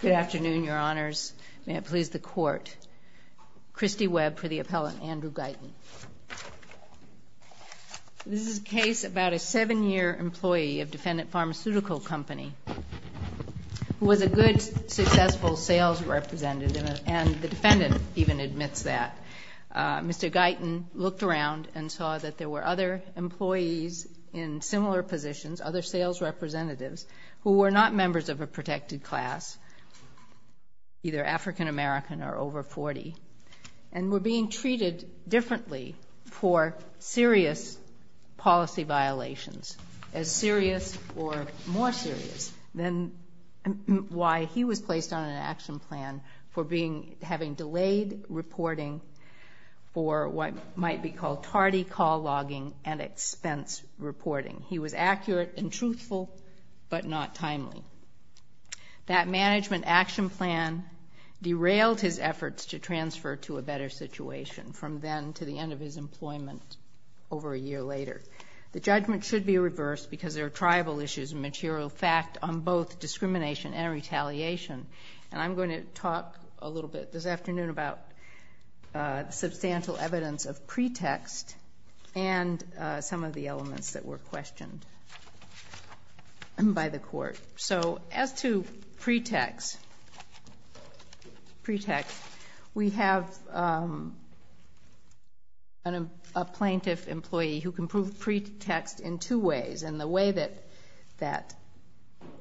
Good afternoon, Your Honors. May it please the Court. Christy Webb for the appellant, Andrew Guyton. This is a case about a seven-year employee of Defendant Pharmaceutical Company who was a good, successful sales representative, and the defendant even admits that. Mr. Guyton looked around and saw that there were other employees in similar positions, other sales representatives, who were not members of a protected class, either African American or over 40, and were being treated differently for serious policy violations, as serious or more serious than why he was placed on an action plan for having delayed reporting for what might be called tardy call logging and expense reporting. He was accurate and truthful, but not timely. That management action plan derailed his efforts to transfer to a better situation from then to the end of his employment over a year later. The judgment should be reversed because there are tribal issues and material fact on both discrimination and retaliation, and I'm going to talk a little bit this afternoon about the substantial evidence of pretext and some of the elements that were questioned by the court. So as to pretext, we have a plaintiff employee who can prove pretext in two ways, and the way that that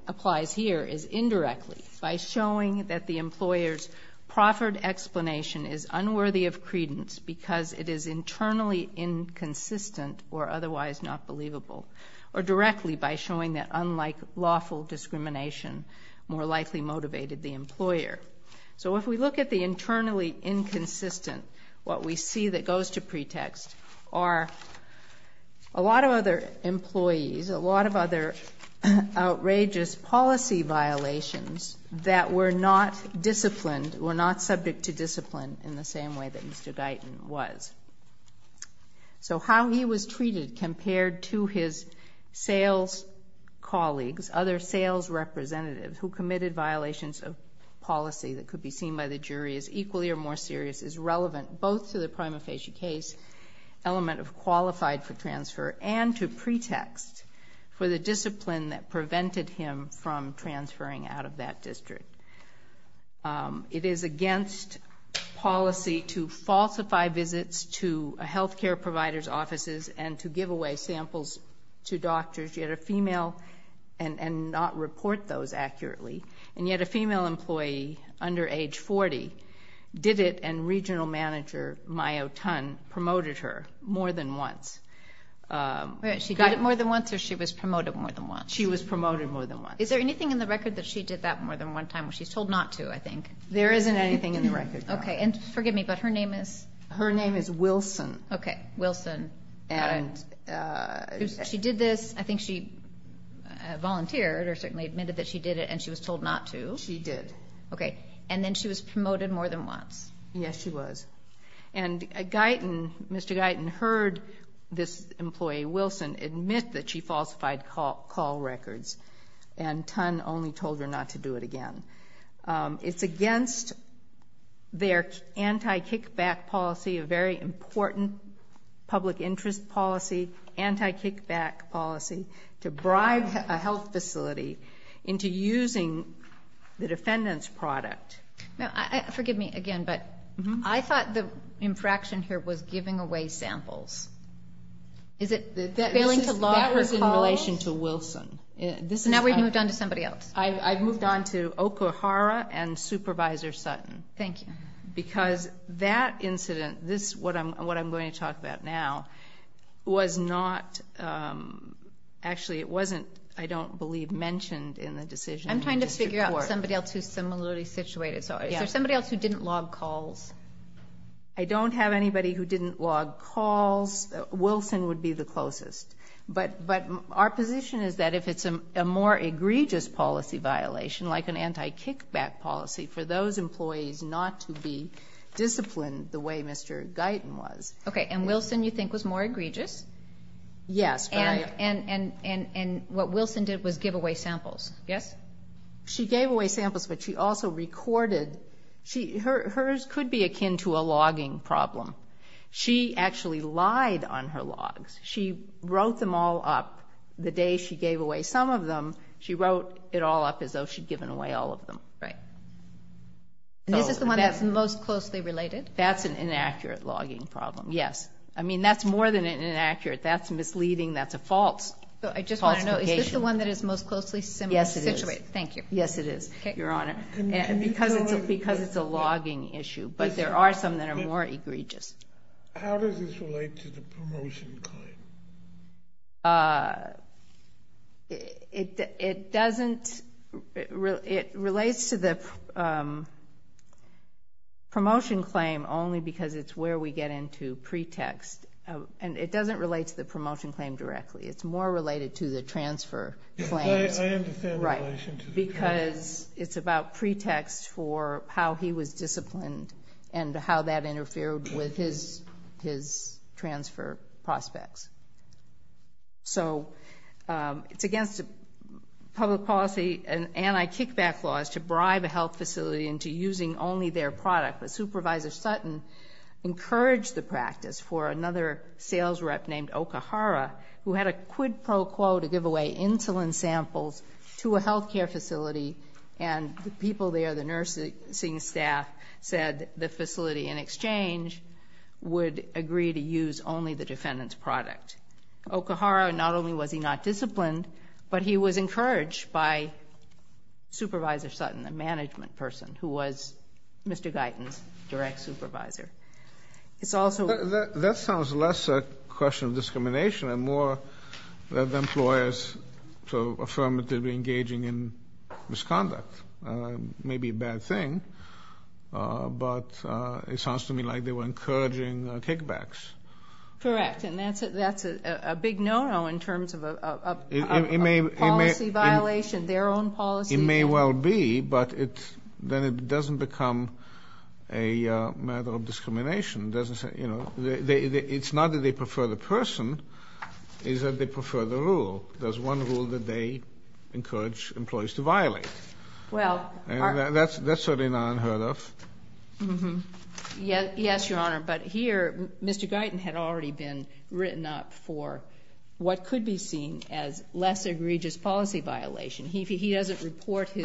applies here is indirectly, by showing that the employer's proffered explanation is unworthy of credence because it is internally inconsistent or otherwise not believable, or directly by showing that unlike lawful discrimination, more likely motivated the employer. So if we look at the internally inconsistent, what we see that goes to pretext are a lot of other employees, a lot of other outrageous policy violations that were not disciplined, were not subject to discipline in the same way that Mr. Guyton was. So how he was treated compared to his sales colleagues, other sales representatives, who committed violations of policy that could be seen by the jury as equally or more serious is relevant both to the prima facie case element of qualified for transfer and to pretext for the discipline that prevented him from transferring out of that district. It is against policy to falsify visits to health care providers' offices and to give away samples to doctors, yet a female, and not report those accurately, and yet a female employee under age 40 did it and regional manager, Mayo Tun, promoted her more than once. She did it more than once or she was promoted more than once? She was promoted more than once. Is there anything in the record that she did that more than one time where she's told not to, I think? There isn't anything in the record. Okay. And forgive me, but her name is? Her name is Wilson. Okay. Wilson. She did this. I think she volunteered or certainly admitted that she did it and she was told not to. She did. Okay. And then she was promoted more than once. Yes, she was. And Mr. Guyton heard this employee, Wilson, admit that she falsified call records and Tun only told her not to do it again. It's against their anti-kickback policy, a very important public interest policy, anti-kickback policy to bribe a health facility into using the defendant's product. Now, forgive me again, but I thought the infraction here was giving away samples. Is it failing to log her calls? In relation to Wilson. Now we've moved on to somebody else. I've moved on to Okuhara and Supervisor Sutton. Thank you. Because that incident, what I'm going to talk about now, was not actually, it wasn't, I don't believe, mentioned in the decision. I'm trying to figure out somebody else who's similarly situated. Is there somebody else who didn't log calls? I don't have anybody who didn't log calls. Wilson would be the closest. But our position is that if it's a more egregious policy violation, like an anti-kickback policy, for those employees not to be disciplined the way Mr. Guyton was. Okay, and Wilson you think was more egregious? Yes. And what Wilson did was give away samples. Yes? She gave away samples, but she also recorded, hers could be akin to a logging problem. She actually lied on her logs. She wrote them all up. The day she gave away some of them, she wrote it all up as though she'd given away all of them. Right. And this is the one that's most closely related? That's an inaccurate logging problem, yes. I mean, that's more than inaccurate. That's misleading. That's a false falsification. I just want to know, is this the one that is most closely similar situated? Yes, it is. Thank you. Yes, it is, Your Honor. Because it's a logging issue. But there are some that are more egregious. How does this relate to the promotion claim? It doesn't. It relates to the promotion claim only because it's where we get into pretext. And it doesn't relate to the promotion claim directly. It's more related to the transfer claims. I understand the relation to the transfer. Because it's about pretext for how he was disciplined and how that interfered with his transfer prospects. So it's against public policy and anti-kickback laws to bribe a health facility into using only their product. But Supervisor Sutton encouraged the practice for another sales rep named who had a quid pro quo to give away insulin samples to a health care facility. And the people there, the nursing staff, said the facility in exchange would agree to use only the defendant's product. Okahara, not only was he not disciplined, but he was encouraged by Supervisor Sutton, the management person, who was Mr. Guyton's direct supervisor. That sounds less a question of discrimination and more of employers affirmatively engaging in misconduct. It may be a bad thing, but it sounds to me like they were encouraging kickbacks. Correct. And that's a big no-no in terms of a policy violation, their own policy. It may well be, but then it doesn't become a matter of discrimination. It's not that they prefer the person, it's that they prefer the rule. There's one rule that they encourage employees to violate. That's certainly not unheard of. Yes, Your Honor, but here Mr. Guyton had already been written up for what could be seen as less egregious policy violation. He doesn't report his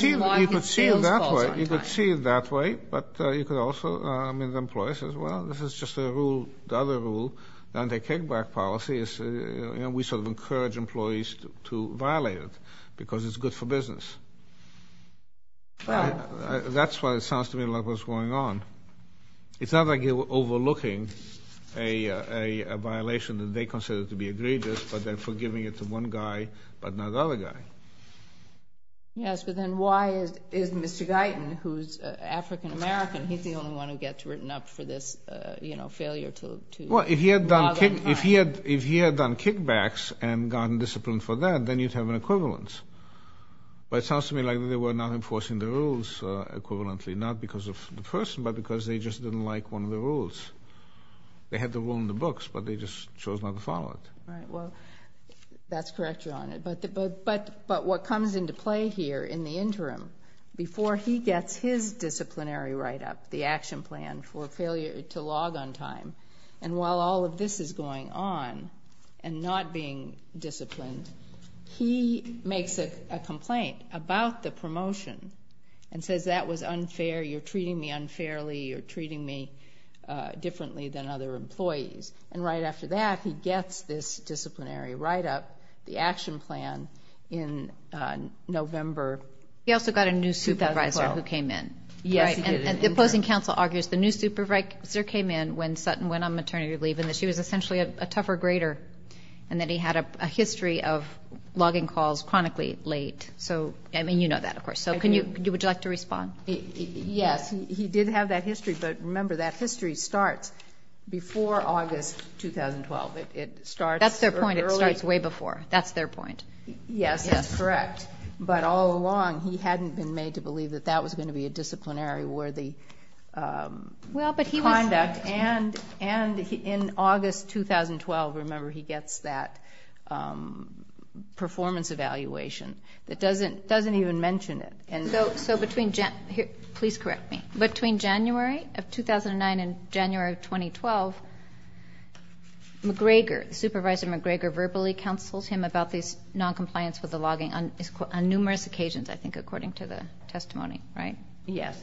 sales calls on time. You could see it that way, but you could also, I mean, the employer says, well, this is just a rule, the other rule. The anti-kickback policy is, you know, we sort of encourage employees to violate it because it's good for business. That's why it sounds to me like what's going on. It's not like you're overlooking a violation that they consider to be egregious, but they're forgiving it to one guy but not the other guy. Yes, but then why is Mr. Guyton, who's African-American, he's the only one who gets written up for this, you know, failure to log on time. Well, if he had done kickbacks and gotten disciplined for that, then you'd have an equivalence. But it sounds to me like they were not enforcing the rules equivalently, not because of the person but because they just didn't like one of the rules. They had the rule in the books, but they just chose not to follow it. Right. Well, that's correct, John, but what comes into play here in the interim, before he gets his disciplinary write-up, the action plan for failure to log on time, and while all of this is going on and not being disciplined, he makes a complaint about the promotion and says that was unfair, you're treating me unfairly, you're treating me differently than other employees. And right after that, he gets this disciplinary write-up, the action plan in November 2012. He also got a new supervisor who came in. Yes, he did. And the opposing counsel argues the new supervisor came in when Sutton went on maternity leave and that she was essentially a tougher grader and that he had a history of logging calls chronically late. So, I mean, you know that, of course. I do. Would you like to respond? Yes. He did have that history, but remember, that history starts before August 2012. It starts earlier. That's their point. It starts way before. That's their point. Yes, that's correct. But all along, he hadn't been made to believe that that was going to be a disciplinary-worthy conduct. And in August 2012, remember, he gets that performance evaluation that doesn't even mention it. Please correct me. Between January of 2009 and January of 2012, Supervisor McGregor verbally counsels him about this noncompliance with the logging on numerous occasions, I think, according to the testimony, right? Yes.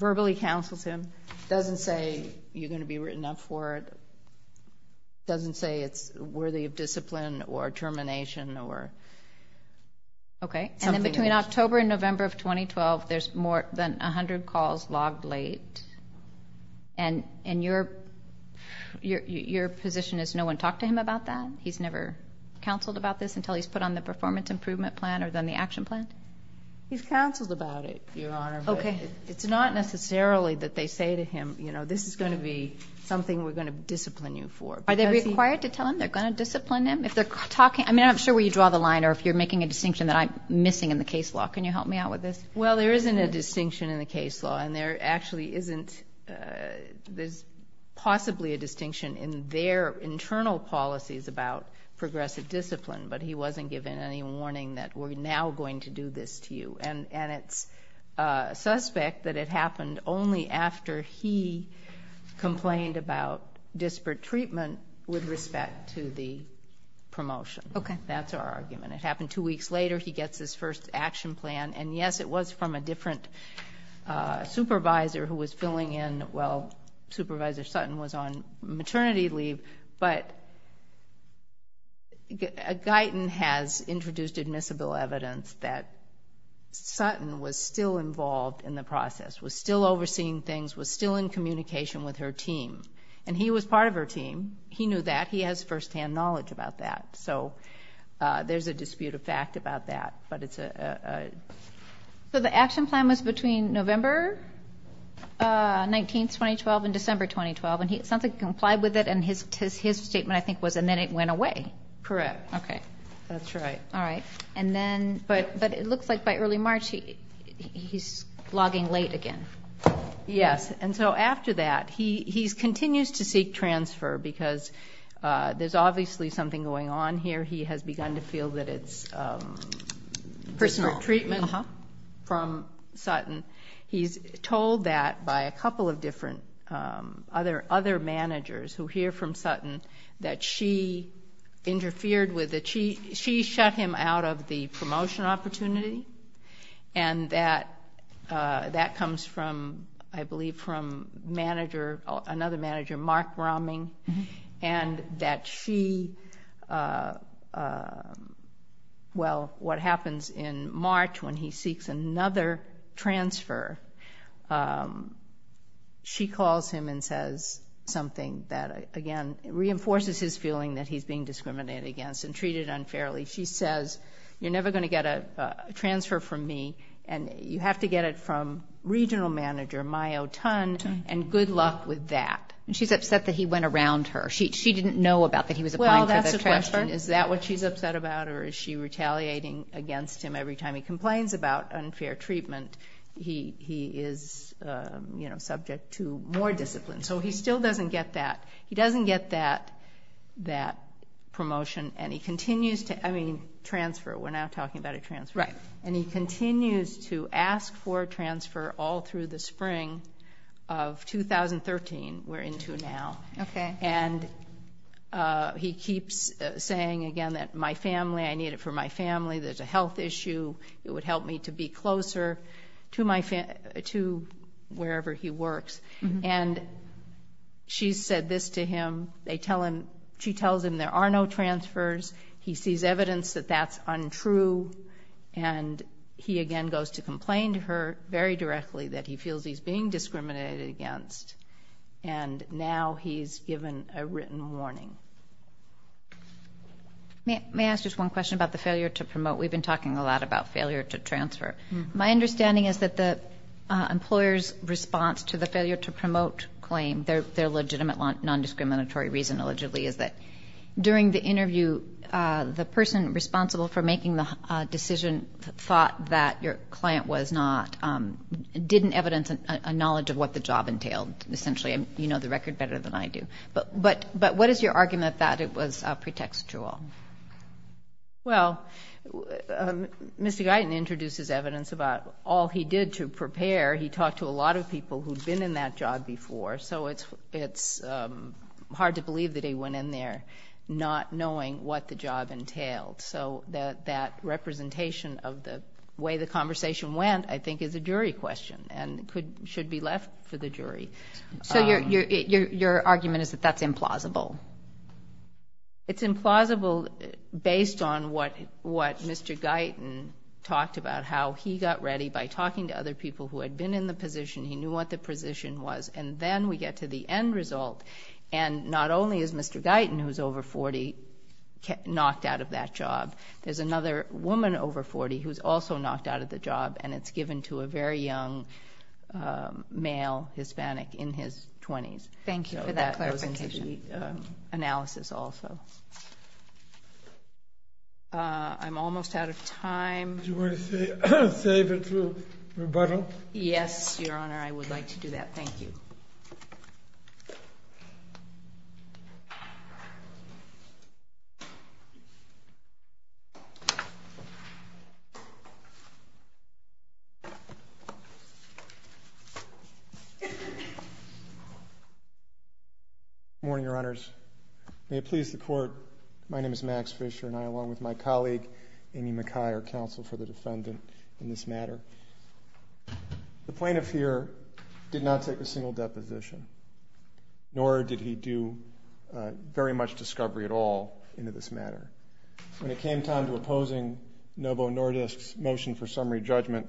Verbally counsels him. Doesn't say you're going to be written up for it. Doesn't say it's worthy of discipline or termination or something. Okay. And then between October and November of 2012, there's more than 100 calls logged late. And your position is no one talked to him about that? He's never counseled about this until he's put on the performance improvement plan or then the action plan? He's counseled about it, Your Honor. Okay. It's not necessarily that they say to him, you know, this is going to be something we're going to discipline you for. Are they required to tell him they're going to discipline him? If they're talking, I mean, I'm not sure where you draw the line or if you're making a distinction that I'm missing in the case law. Can you help me out with this? Well, there isn't a distinction in the case law, and there actually isn't. There's possibly a distinction in their internal policies about progressive discipline, but he wasn't given any warning that we're now going to do this to you. And it's suspect that it happened only after he complained about disparate treatment with respect to the promotion. Okay. That's our argument. It happened two weeks later. He gets his first action plan. And, yes, it was from a different supervisor who was filling in while Supervisor Sutton was on maternity leave, but Guyton has introduced admissible evidence that Sutton was still involved in the process, was still overseeing things, was still in communication with her team. And he was part of her team. He knew that. He has firsthand knowledge about that. So there's a dispute of fact about that, but it's a... So the action plan was between November 19, 2012, and December 2012, and it sounds like he complied with it, and his statement, I think, was, and then it went away. Correct. Okay. That's right. All right. And then, but it looks like by early March he's logging late again. Yes. And so after that, he continues to seek transfer because there's obviously something going on here. He has begun to feel that it's personal treatment from Sutton. He's told that by a couple of different other managers who hear from Sutton, that she interfered with the chief. She shut him out of the promotion opportunity, and that that comes from, I believe, from manager, another manager, Mark Romming, and that she, well, what happens in March when he seeks another transfer, she calls him and says something that, again, reinforces his feeling that he's being discriminated against and treated unfairly. She says, you're never going to get a transfer from me, and you have to get it from regional manager, Mayo Tun, and good luck with that. And she's upset that he went around her. She didn't know about that he was applying for the transfer. Well, that's the question. Is that what she's upset about, or is she retaliating against him every time he complains about unfair treatment? He is, you know, subject to more discipline. So he still doesn't get that. He doesn't get that promotion, and he continues to, I mean, transfer. We're now talking about a transfer. Right. And he continues to ask for a transfer all through the spring of 2013. We're into now. Okay. And he keeps saying, again, that my family, I need it for my family. There's a health issue. It would help me to be closer to wherever he works. And she said this to him. She tells him there are no transfers. He sees evidence that that's untrue, and he again goes to complain to her very directly that he feels he's being discriminated against. And now he's given a written warning. May I ask just one question about the failure to promote? We've been talking a lot about failure to transfer. My understanding is that the employer's response to the failure to promote claim, their legitimate non-discriminatory reason allegedly is that during the interview, the person responsible for making the decision thought that your client was not, didn't evidence a knowledge of what the job entailed, essentially. You know the record better than I do. But what is your argument that it was pretextual? Well, Mr. Guyton introduces evidence about all he did to prepare. He talked to a lot of people who'd been in that job before, so it's hard to believe that he went in there not knowing what the job entailed. So that representation of the way the conversation went I think is a jury question and should be left for the jury. So your argument is that that's implausible? It's implausible based on what Mr. Guyton talked about, how he got ready by talking to other people who had been in the position, he knew what the position was, and then we get to the end result. And not only is Mr. Guyton, who's over 40, knocked out of that job, there's another woman over 40 who's also knocked out of the job, and it's given to a very young male Hispanic in his 20s. Thank you for that clarification. So that goes into the analysis also. I'm almost out of time. Do you want to save it for rebuttal? Yes, Your Honor, I would like to do that. Thank you. Good morning, Your Honors. May it please the Court, my name is Max Fisher, and I along with my colleague Amy McKay are counsel for the defendant in this matter. The plaintiff here did not take a single deposition, nor did he do very much discovery at all into this matter. When it came time to opposing Novo Nordisk's motion for summary judgment,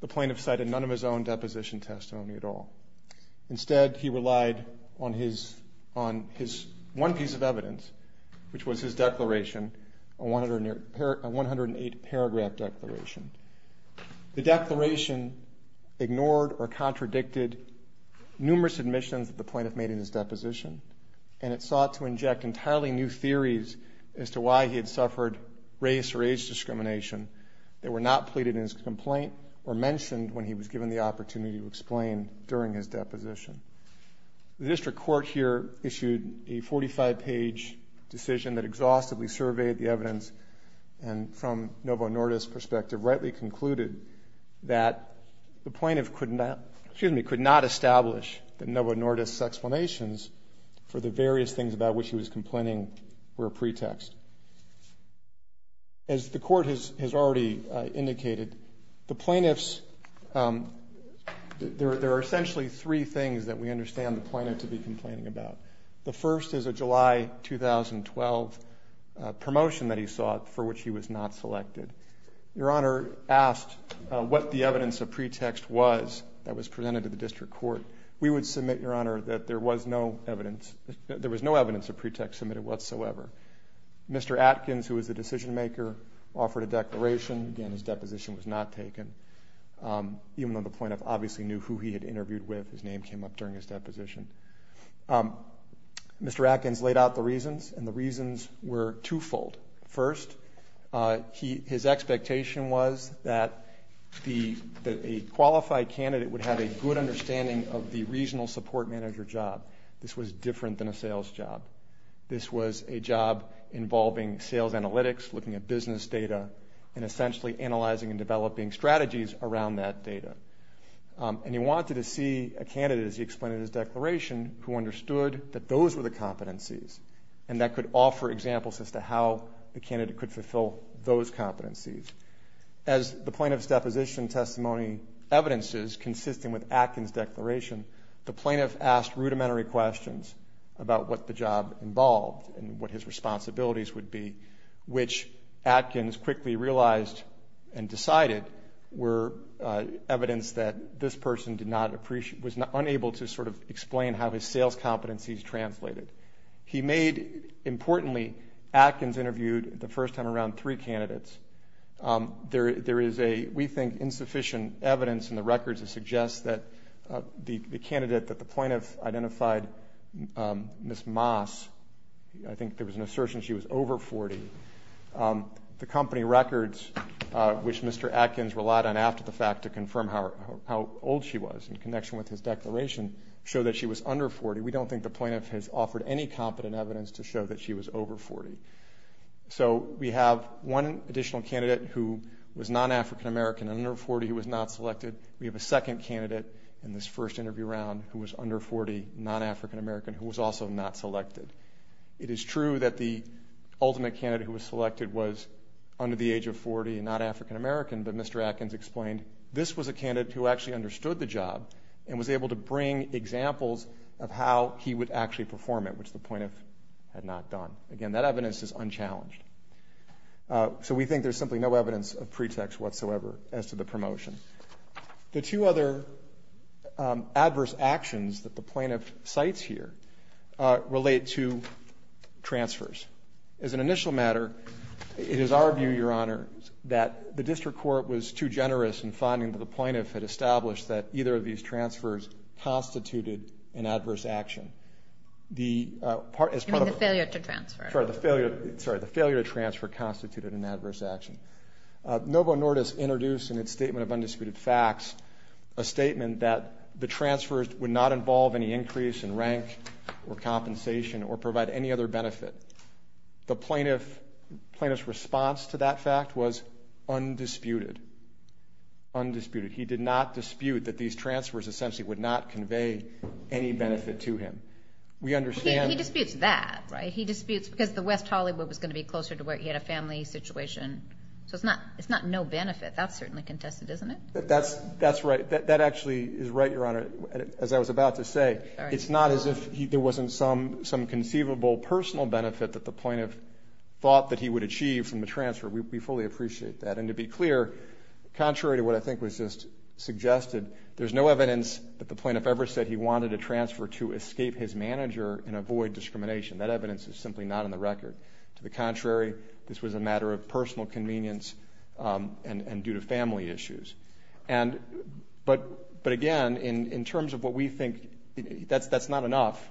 the plaintiff cited none of his own deposition testimony at all. Instead, he relied on his one piece of evidence, which was his declaration, a 108-paragraph declaration. The declaration ignored or contradicted numerous admissions that the plaintiff made in his deposition, and it sought to inject entirely new theories as to why he had suffered race when he was given the opportunity to explain during his deposition. The district court here issued a 45-page decision that exhaustively surveyed the evidence and from Novo Nordisk's perspective rightly concluded that the plaintiff could not establish Novo Nordisk's explanations for the various things about which he was complaining were a pretext. As the court has already indicated, the plaintiffs, there are essentially three things that we understand the plaintiff to be complaining about. The first is a July 2012 promotion that he sought for which he was not selected. Your Honor asked what the evidence of pretext was that was presented to the district court. We would submit, Your Honor, that there was no evidence of pretext submitted whatsoever. Mr. Atkins, who was the decision maker, offered a declaration. Again, his deposition was not taken. Even though the plaintiff obviously knew who he had interviewed with, his name came up during his deposition. Mr. Atkins laid out the reasons, and the reasons were twofold. First, his expectation was that a qualified candidate would have a good understanding of the regional support manager job. This was different than a sales job. This was a job involving sales analytics, looking at business data, and essentially analyzing and developing strategies around that data. And he wanted to see a candidate, as he explained in his declaration, who understood that those were the competencies, and that could offer examples as to how the candidate could fulfill those competencies. As the plaintiff's deposition testimony evidences, consisting with Atkins' declaration, the plaintiff asked rudimentary questions about what the job involved and what his responsibilities would be, which Atkins quickly realized and decided were evidence that this person was unable to sort of explain how his sales competencies translated. He made, importantly, Atkins interviewed the first time around three candidates. There is a, we think, insufficient evidence in the records that suggests that the candidate that the plaintiff identified, Ms. Moss, I think there was an assertion she was over 40. The company records, which Mr. Atkins relied on after the fact to confirm how old she was in connection with his declaration, show that she was under 40. We don't think the plaintiff has offered any competent evidence to show that she was over 40. So we have one additional candidate who was non-African American and under 40 who was not selected. We have a second candidate in this first interview round who was under 40, non-African American, who was also not selected. It is true that the ultimate candidate who was selected was under the age of 40 and not African American, but Mr. Atkins explained this was a candidate who actually understood the job and was able to bring examples of how he would actually perform it, which the plaintiff had not done. Again, that evidence is unchallenged. So we think there's simply no evidence of pretext whatsoever as to the promotion. The two other adverse actions that the plaintiff cites here relate to transfers. As an initial matter, it is our view, Your Honor, that the district court was too generous in finding that the plaintiff had established that either of these transfers constituted an adverse action. You mean the failure to transfer. Sorry, the failure to transfer constituted an adverse action. Novo Nordis introduced in its Statement of Undisputed Facts a statement that the transfers would not involve any increase in rank or compensation or provide any other benefit. The plaintiff's response to that fact was undisputed. He did not dispute that these transfers essentially would not convey any benefit to him. He disputes that, right? He disputes because the West Hollywood was going to be closer to where he had a family situation. So it's not no benefit. That's certainly contested, isn't it? That's right. That actually is right, Your Honor, as I was about to say. It's not as if there wasn't some conceivable personal benefit that the plaintiff thought that he would achieve from the transfer. We fully appreciate that. And to be clear, contrary to what I think was just suggested, there's no evidence that the plaintiff ever said he wanted a transfer to escape his manager and avoid discrimination. That evidence is simply not on the record. To the contrary, this was a matter of personal convenience and due to family issues. But again, in terms of what we think, that's not enough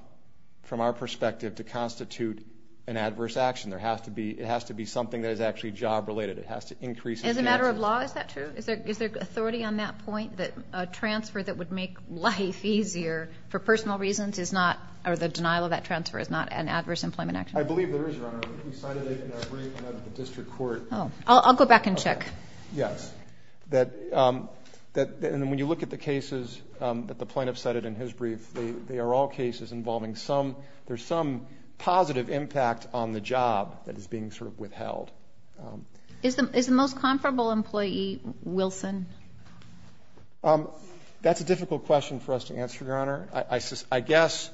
from our perspective to constitute an adverse action. It has to be something that is actually job-related. It has to increase his chances. As a matter of law, is that true? Is there authority on that point that a transfer that would make life easier for personal reasons is not or the denial of that transfer is not an adverse employment action? I believe there is, Your Honor. We cited it in our brief in the district court. I'll go back and check. Yes. And when you look at the cases that the plaintiff cited in his brief, they are all cases involving some positive impact on the job that is being sort of withheld. Is the most comparable employee Wilson? That's a difficult question for us to answer, Your Honor. I guess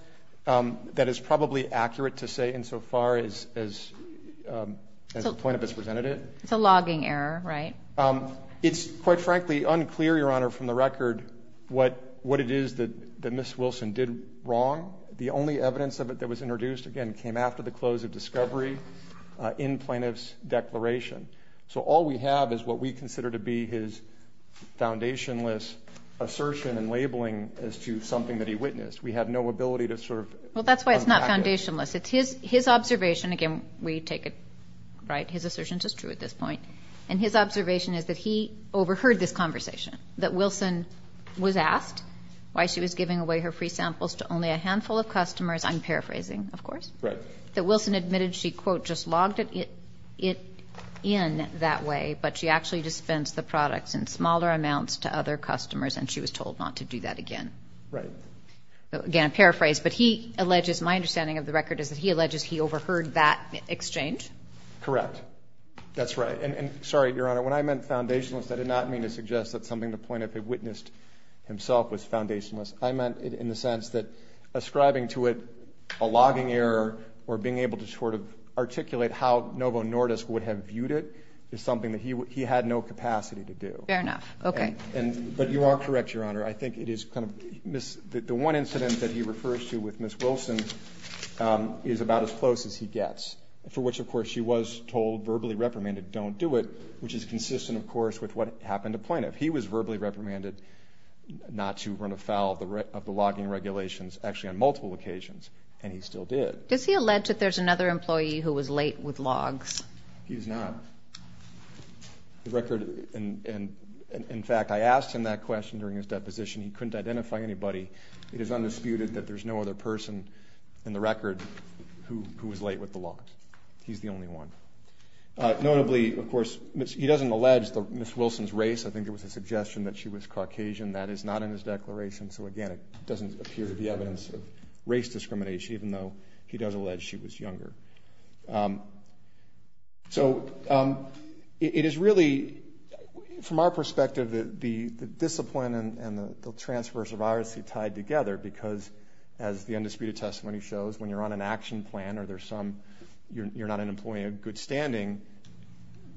that is probably accurate to say insofar as the plaintiff has presented it. It's a logging error, right? It's quite frankly unclear, Your Honor, from the record what it is that Ms. Wilson did wrong. The only evidence of it that was introduced, again, came after the close of discovery in plaintiff's declaration. So all we have is what we consider to be his foundationless assertion and labeling as to something that he witnessed. We have no ability to sort of unpack it. Well, that's why it's not foundationless. It's his observation. Again, we take it, right, his assertion is true at this point. And his observation is that he overheard this conversation, that Wilson was asked why she was giving away her free samples to only a handful of customers. I'm paraphrasing, of course. Right. That Wilson admitted she, quote, just logged it in that way, but she actually dispensed the products in smaller amounts to other customers, and she was told not to do that again. Right. Again, I paraphrase. But he alleges, my understanding of the record is that he alleges he overheard that exchange. Correct. That's right. And, sorry, Your Honor, when I meant foundationless, I did not mean to suggest that something to the point of he witnessed himself was foundationless. I meant it in the sense that ascribing to it a logging error or being able to sort of articulate how Novo Nordisk would have viewed it is something that he had no capacity to do. Fair enough. Okay. But you are correct, Your Honor. I think it is kind of the one incident that he refers to with Ms. Wilson is about as close as he gets, for which, of course, she was told verbally reprimanded don't do it, which is consistent, of course, with what happened to Plaintiff. He was verbally reprimanded not to run afoul of the logging regulations actually on multiple occasions, and he still did. Does he allege that there's another employee who was late with logs? He does not. The record, in fact, I asked him that question during his deposition. He couldn't identify anybody. It is undisputed that there's no other person in the record who was late with the logs. He's the only one. Notably, of course, he doesn't allege Ms. Wilson's race. I think it was a suggestion that she was Caucasian. That is not in his declaration, so, again, it doesn't appear to be evidence of race discrimination, even though he does allege she was younger. So it is really, from our perspective, the discipline and the transverse of irisy tied together because, as the undisputed testimony shows, when you're on an action plan or you're not an employee in good standing,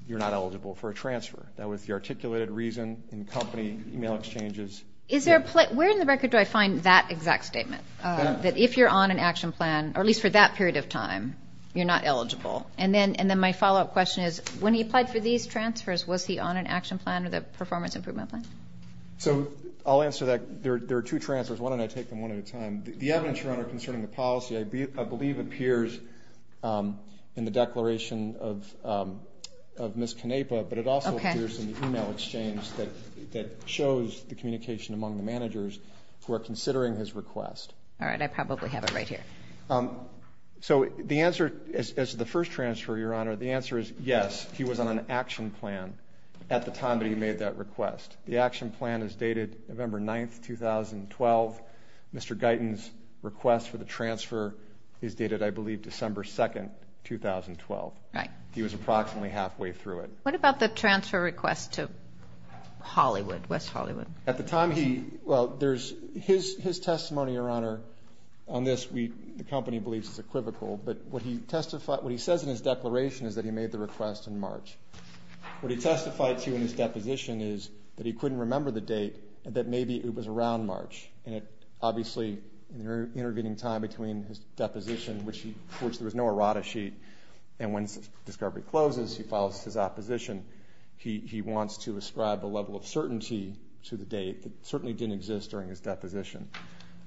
you're not eligible for a transfer. That was the articulated reason in company email exchanges. Where in the record do I find that exact statement? That if you're on an action plan, or at least for that period of time, you're not eligible. And then my follow-up question is, when he applied for these transfers, was he on an action plan or the performance improvement plan? So I'll answer that. There are two transfers. Why don't I take them one at a time? The evidence, Your Honor, concerning the policy I believe appears in the declaration of Ms. Canepa, but it also appears in the email exchange that shows the communication among the managers who are considering his request. All right. I probably have it right here. So the answer, as to the first transfer, Your Honor, the answer is yes, he was on an action plan at the time that he made that request. The action plan is dated November 9, 2012. Mr. Guyton's request for the transfer is dated, I believe, December 2, 2012. He was approximately halfway through it. What about the transfer request to Hollywood, West Hollywood? At the time he – well, there's his testimony, Your Honor, on this. The company believes it's equivocal. But what he testified – what he says in his declaration is that he made the request in March. What he testified to in his deposition is that he couldn't remember the date, that maybe it was around March. And obviously, in the intervening time between his deposition, which there was no errata sheet, and when discovery closes, he files his opposition, he wants to ascribe a level of certainty to the date that certainly didn't exist during his deposition.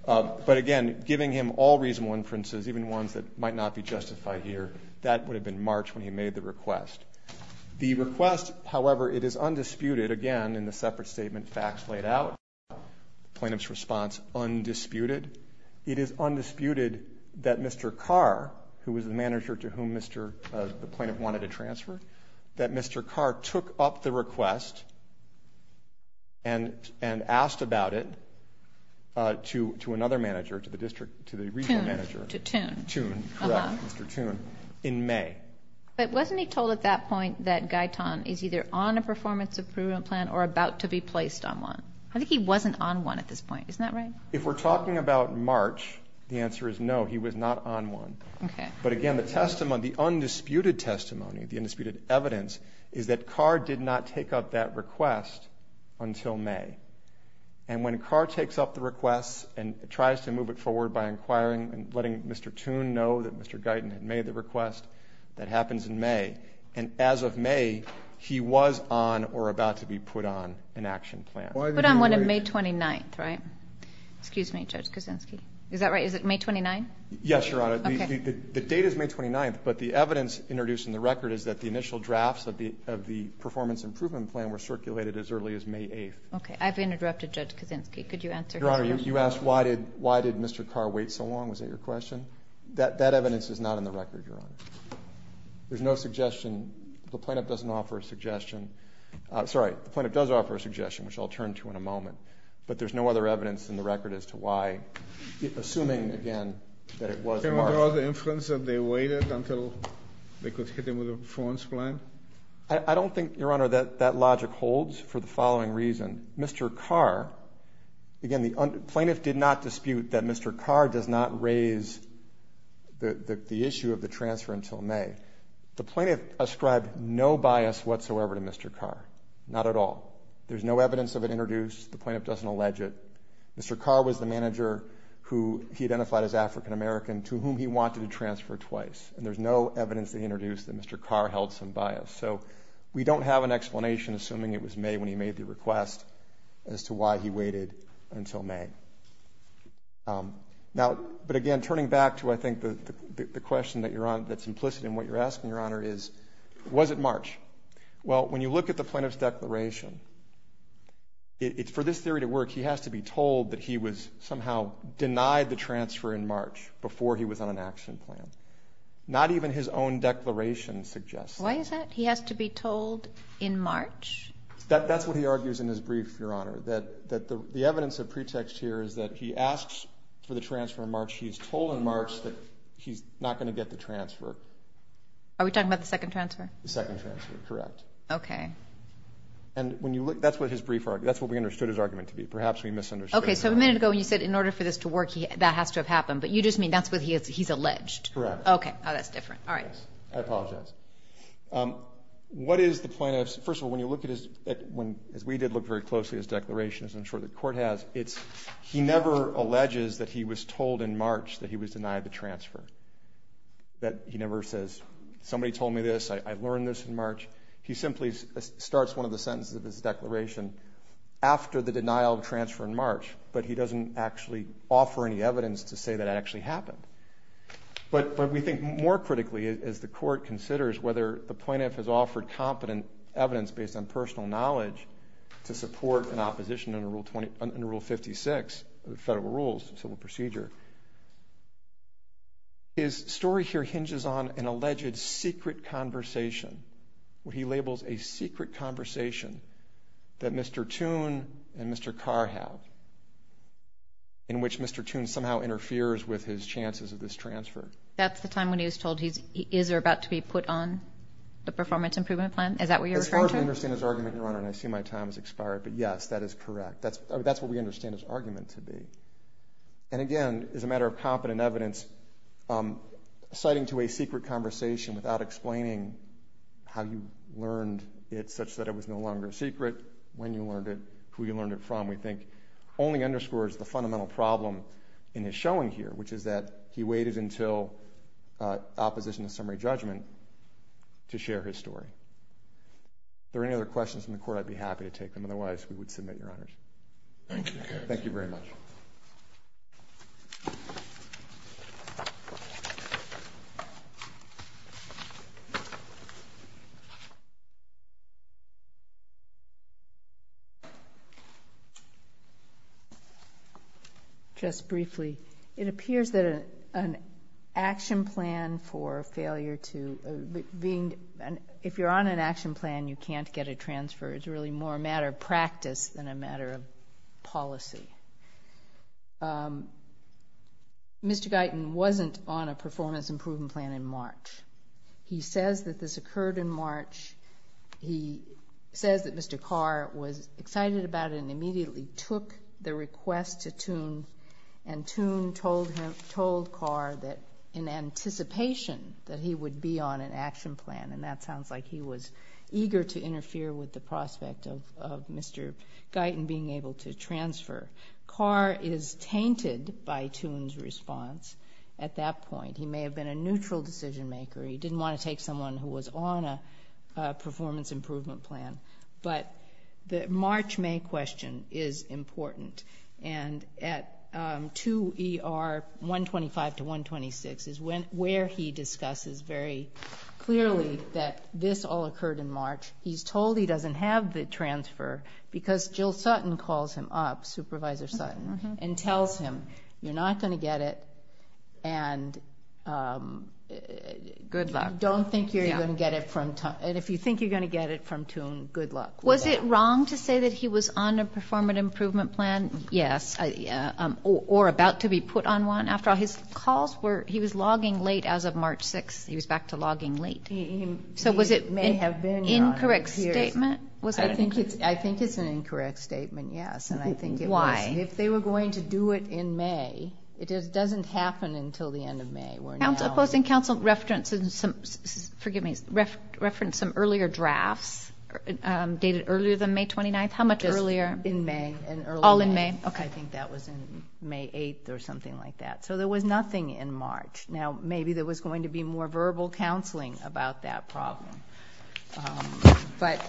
But, again, giving him all reasonable inferences, even ones that might not be justified here, that would have been March when he made the request. The request, however, it is undisputed, again, in the separate statement facts laid out, plaintiff's response, undisputed. It is undisputed that Mr. Carr, who was the manager to whom the plaintiff wanted to transfer, that Mr. Carr took up the request and asked about it to another manager, to the regional manager. To Toone. Toone, correct, Mr. Toone, in May. But wasn't he told at that point that Guyton is either on a performance improvement plan or about to be placed on one? I think he wasn't on one at this point, isn't that right? If we're talking about March, the answer is no, he was not on one. Okay. But, again, the undisputed testimony, the undisputed evidence, is that Carr did not take up that request until May. And when Carr takes up the request and tries to move it forward by inquiring and letting Mr. Toone know that Mr. Guyton had made the request, that happens in May. And as of May, he was on or about to be put on an action plan. Put on one on May 29th, right? Excuse me, Judge Kuczynski. Is that right? Is it May 29th? Yes, Your Honor. The date is May 29th, but the evidence introduced in the record is that the initial drafts of the performance improvement plan were circulated as early as May 8th. Okay. I've interrupted Judge Kuczynski. Could you answer his question? Your Honor, you asked why did Mr. Carr wait so long. Was that your question? That evidence is not in the record, Your Honor. There's no suggestion. The plaintiff doesn't offer a suggestion. Sorry, the plaintiff does offer a suggestion, which I'll turn to in a moment. But there's no other evidence in the record as to why, assuming, again, that it was March. Can we draw the inference that they waited until they could hit him with a performance plan? I don't think, Your Honor, that that logic holds for the following reason. Mr. Carr, again, the plaintiff did not dispute that Mr. Carr does not raise the issue of the transfer until May. The plaintiff ascribed no bias whatsoever to Mr. Carr, not at all. There's no evidence of it introduced. The plaintiff doesn't allege it. Mr. Carr was the manager who he identified as African-American to whom he wanted to transfer twice, and there's no evidence that he introduced that Mr. Carr held some bias. So we don't have an explanation, assuming it was May when he made the request, as to why he waited until May. But, again, turning back to, I think, the question that's implicit in what you're asking, Your Honor, is was it March? Well, when you look at the plaintiff's declaration, for this theory to work, he has to be told that he was somehow denied the transfer in March before he was on an action plan. Not even his own declaration suggests that. Why is that? He has to be told in March? That's what he argues in his brief, Your Honor, that the evidence of pretext here is that he asks for the transfer in March. He's told in March that he's not going to get the transfer. Are we talking about the second transfer? The second transfer, correct. Okay. And when you look, that's what his brief argument, that's what we understood his argument to be. Perhaps we misunderstood. Okay, so a minute ago you said in order for this to work, that has to have happened, but you just mean that's what he's alleged. Correct. Okay. Oh, that's different. All right. I apologize. What is the plaintiff's, first of all, when you look at his, as we did look very closely at his declaration, as I'm sure the Court has, it's he never alleges that he was told in March that he was denied the transfer. That he never says, somebody told me this, I learned this in March. He simply starts one of the sentences of his declaration after the denial of transfer in March, but he doesn't actually offer any evidence to say that it actually happened. But we think more critically, as the Court considers whether the plaintiff has offered competent evidence based on personal knowledge to support an opposition under Rule 56 of the federal rules, civil procedure, his story here hinges on an alleged secret conversation where he labels a secret conversation that Mr. Toone and Mr. Carr have in which Mr. Toone somehow interferes with his chances of this transfer. That's the time when he was told, is there about to be put on the performance improvement plan? Is that what you're referring to? As far as we understand his argument, Your Honor, and I see my time has expired, but yes, that is correct. That's what we understand his argument to be. And again, as a matter of competent evidence, citing to a secret conversation without explaining how you learned it such that it was no longer secret, when you learned it, who you learned it from, we think only underscores the fundamental problem in his showing here, which is that he waited until opposition to summary judgment to share his story. If there are any other questions from the Court, I'd be happy to take them. Otherwise, we would submit, Your Honors. Thank you, Mr. Carr. Thank you very much. Thank you. Just briefly, it appears that an action plan for failure to, if you're on an action plan, you can't get a transfer. It's really more a matter of practice than a matter of policy. Mr. Guyton wasn't on a performance improvement plan in March. He says that this occurred in March. He says that Mr. Carr was excited about it and immediately took the request to Toone, and Toone told Carr that in anticipation that he would be on an action plan, and that sounds like he was eager to interfere with the prospect of Mr. Guyton being able to transfer. Carr is tainted by Toone's response at that point. He may have been a neutral decision maker. He didn't want to take someone who was on a performance improvement plan. But the March-May question is important, and at 2ER125-126 is where he discusses very clearly that this all occurred in March. He's told he doesn't have the transfer because Jill Sutton calls him up, Supervisor Sutton, and tells him, You're not going to get it, and good luck. You don't think you're going to get it from Toone, and if you think you're going to get it from Toone, good luck. Was it wrong to say that he was on a performance improvement plan, yes, or about to be put on one? After all, his calls were he was logging late as of March 6th. He was back to logging late. So was it an incorrect statement? I think it's an incorrect statement, yes. Why? If they were going to do it in May, it doesn't happen until the end of May. Opposing counsel referenced some earlier drafts dated earlier than May 29th. How much earlier? In May. All in May? Okay. I think that was in May 8th or something like that. So there was nothing in March. Now, maybe there was going to be more verbal counseling about that problem. But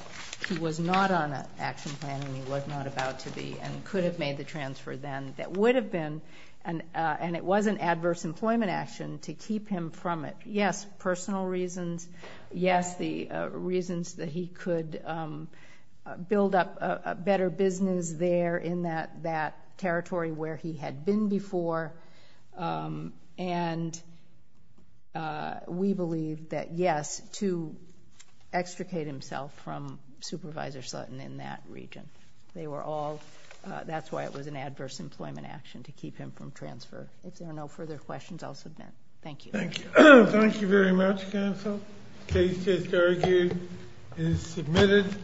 he was not on an action plan, and he was not about to be, and could have made the transfer then. And it was an adverse employment action to keep him from it. Yes, personal reasons. Yes, the reasons that he could build up a better business there in that territory where he had been before. And we believe that, yes, to extricate himself from Supervisor Sutton in that region. That's why it was an adverse employment action to keep him from transfer. If there are no further questions, I'll submit. Thank you. Thank you very much, counsel. The case is submitted.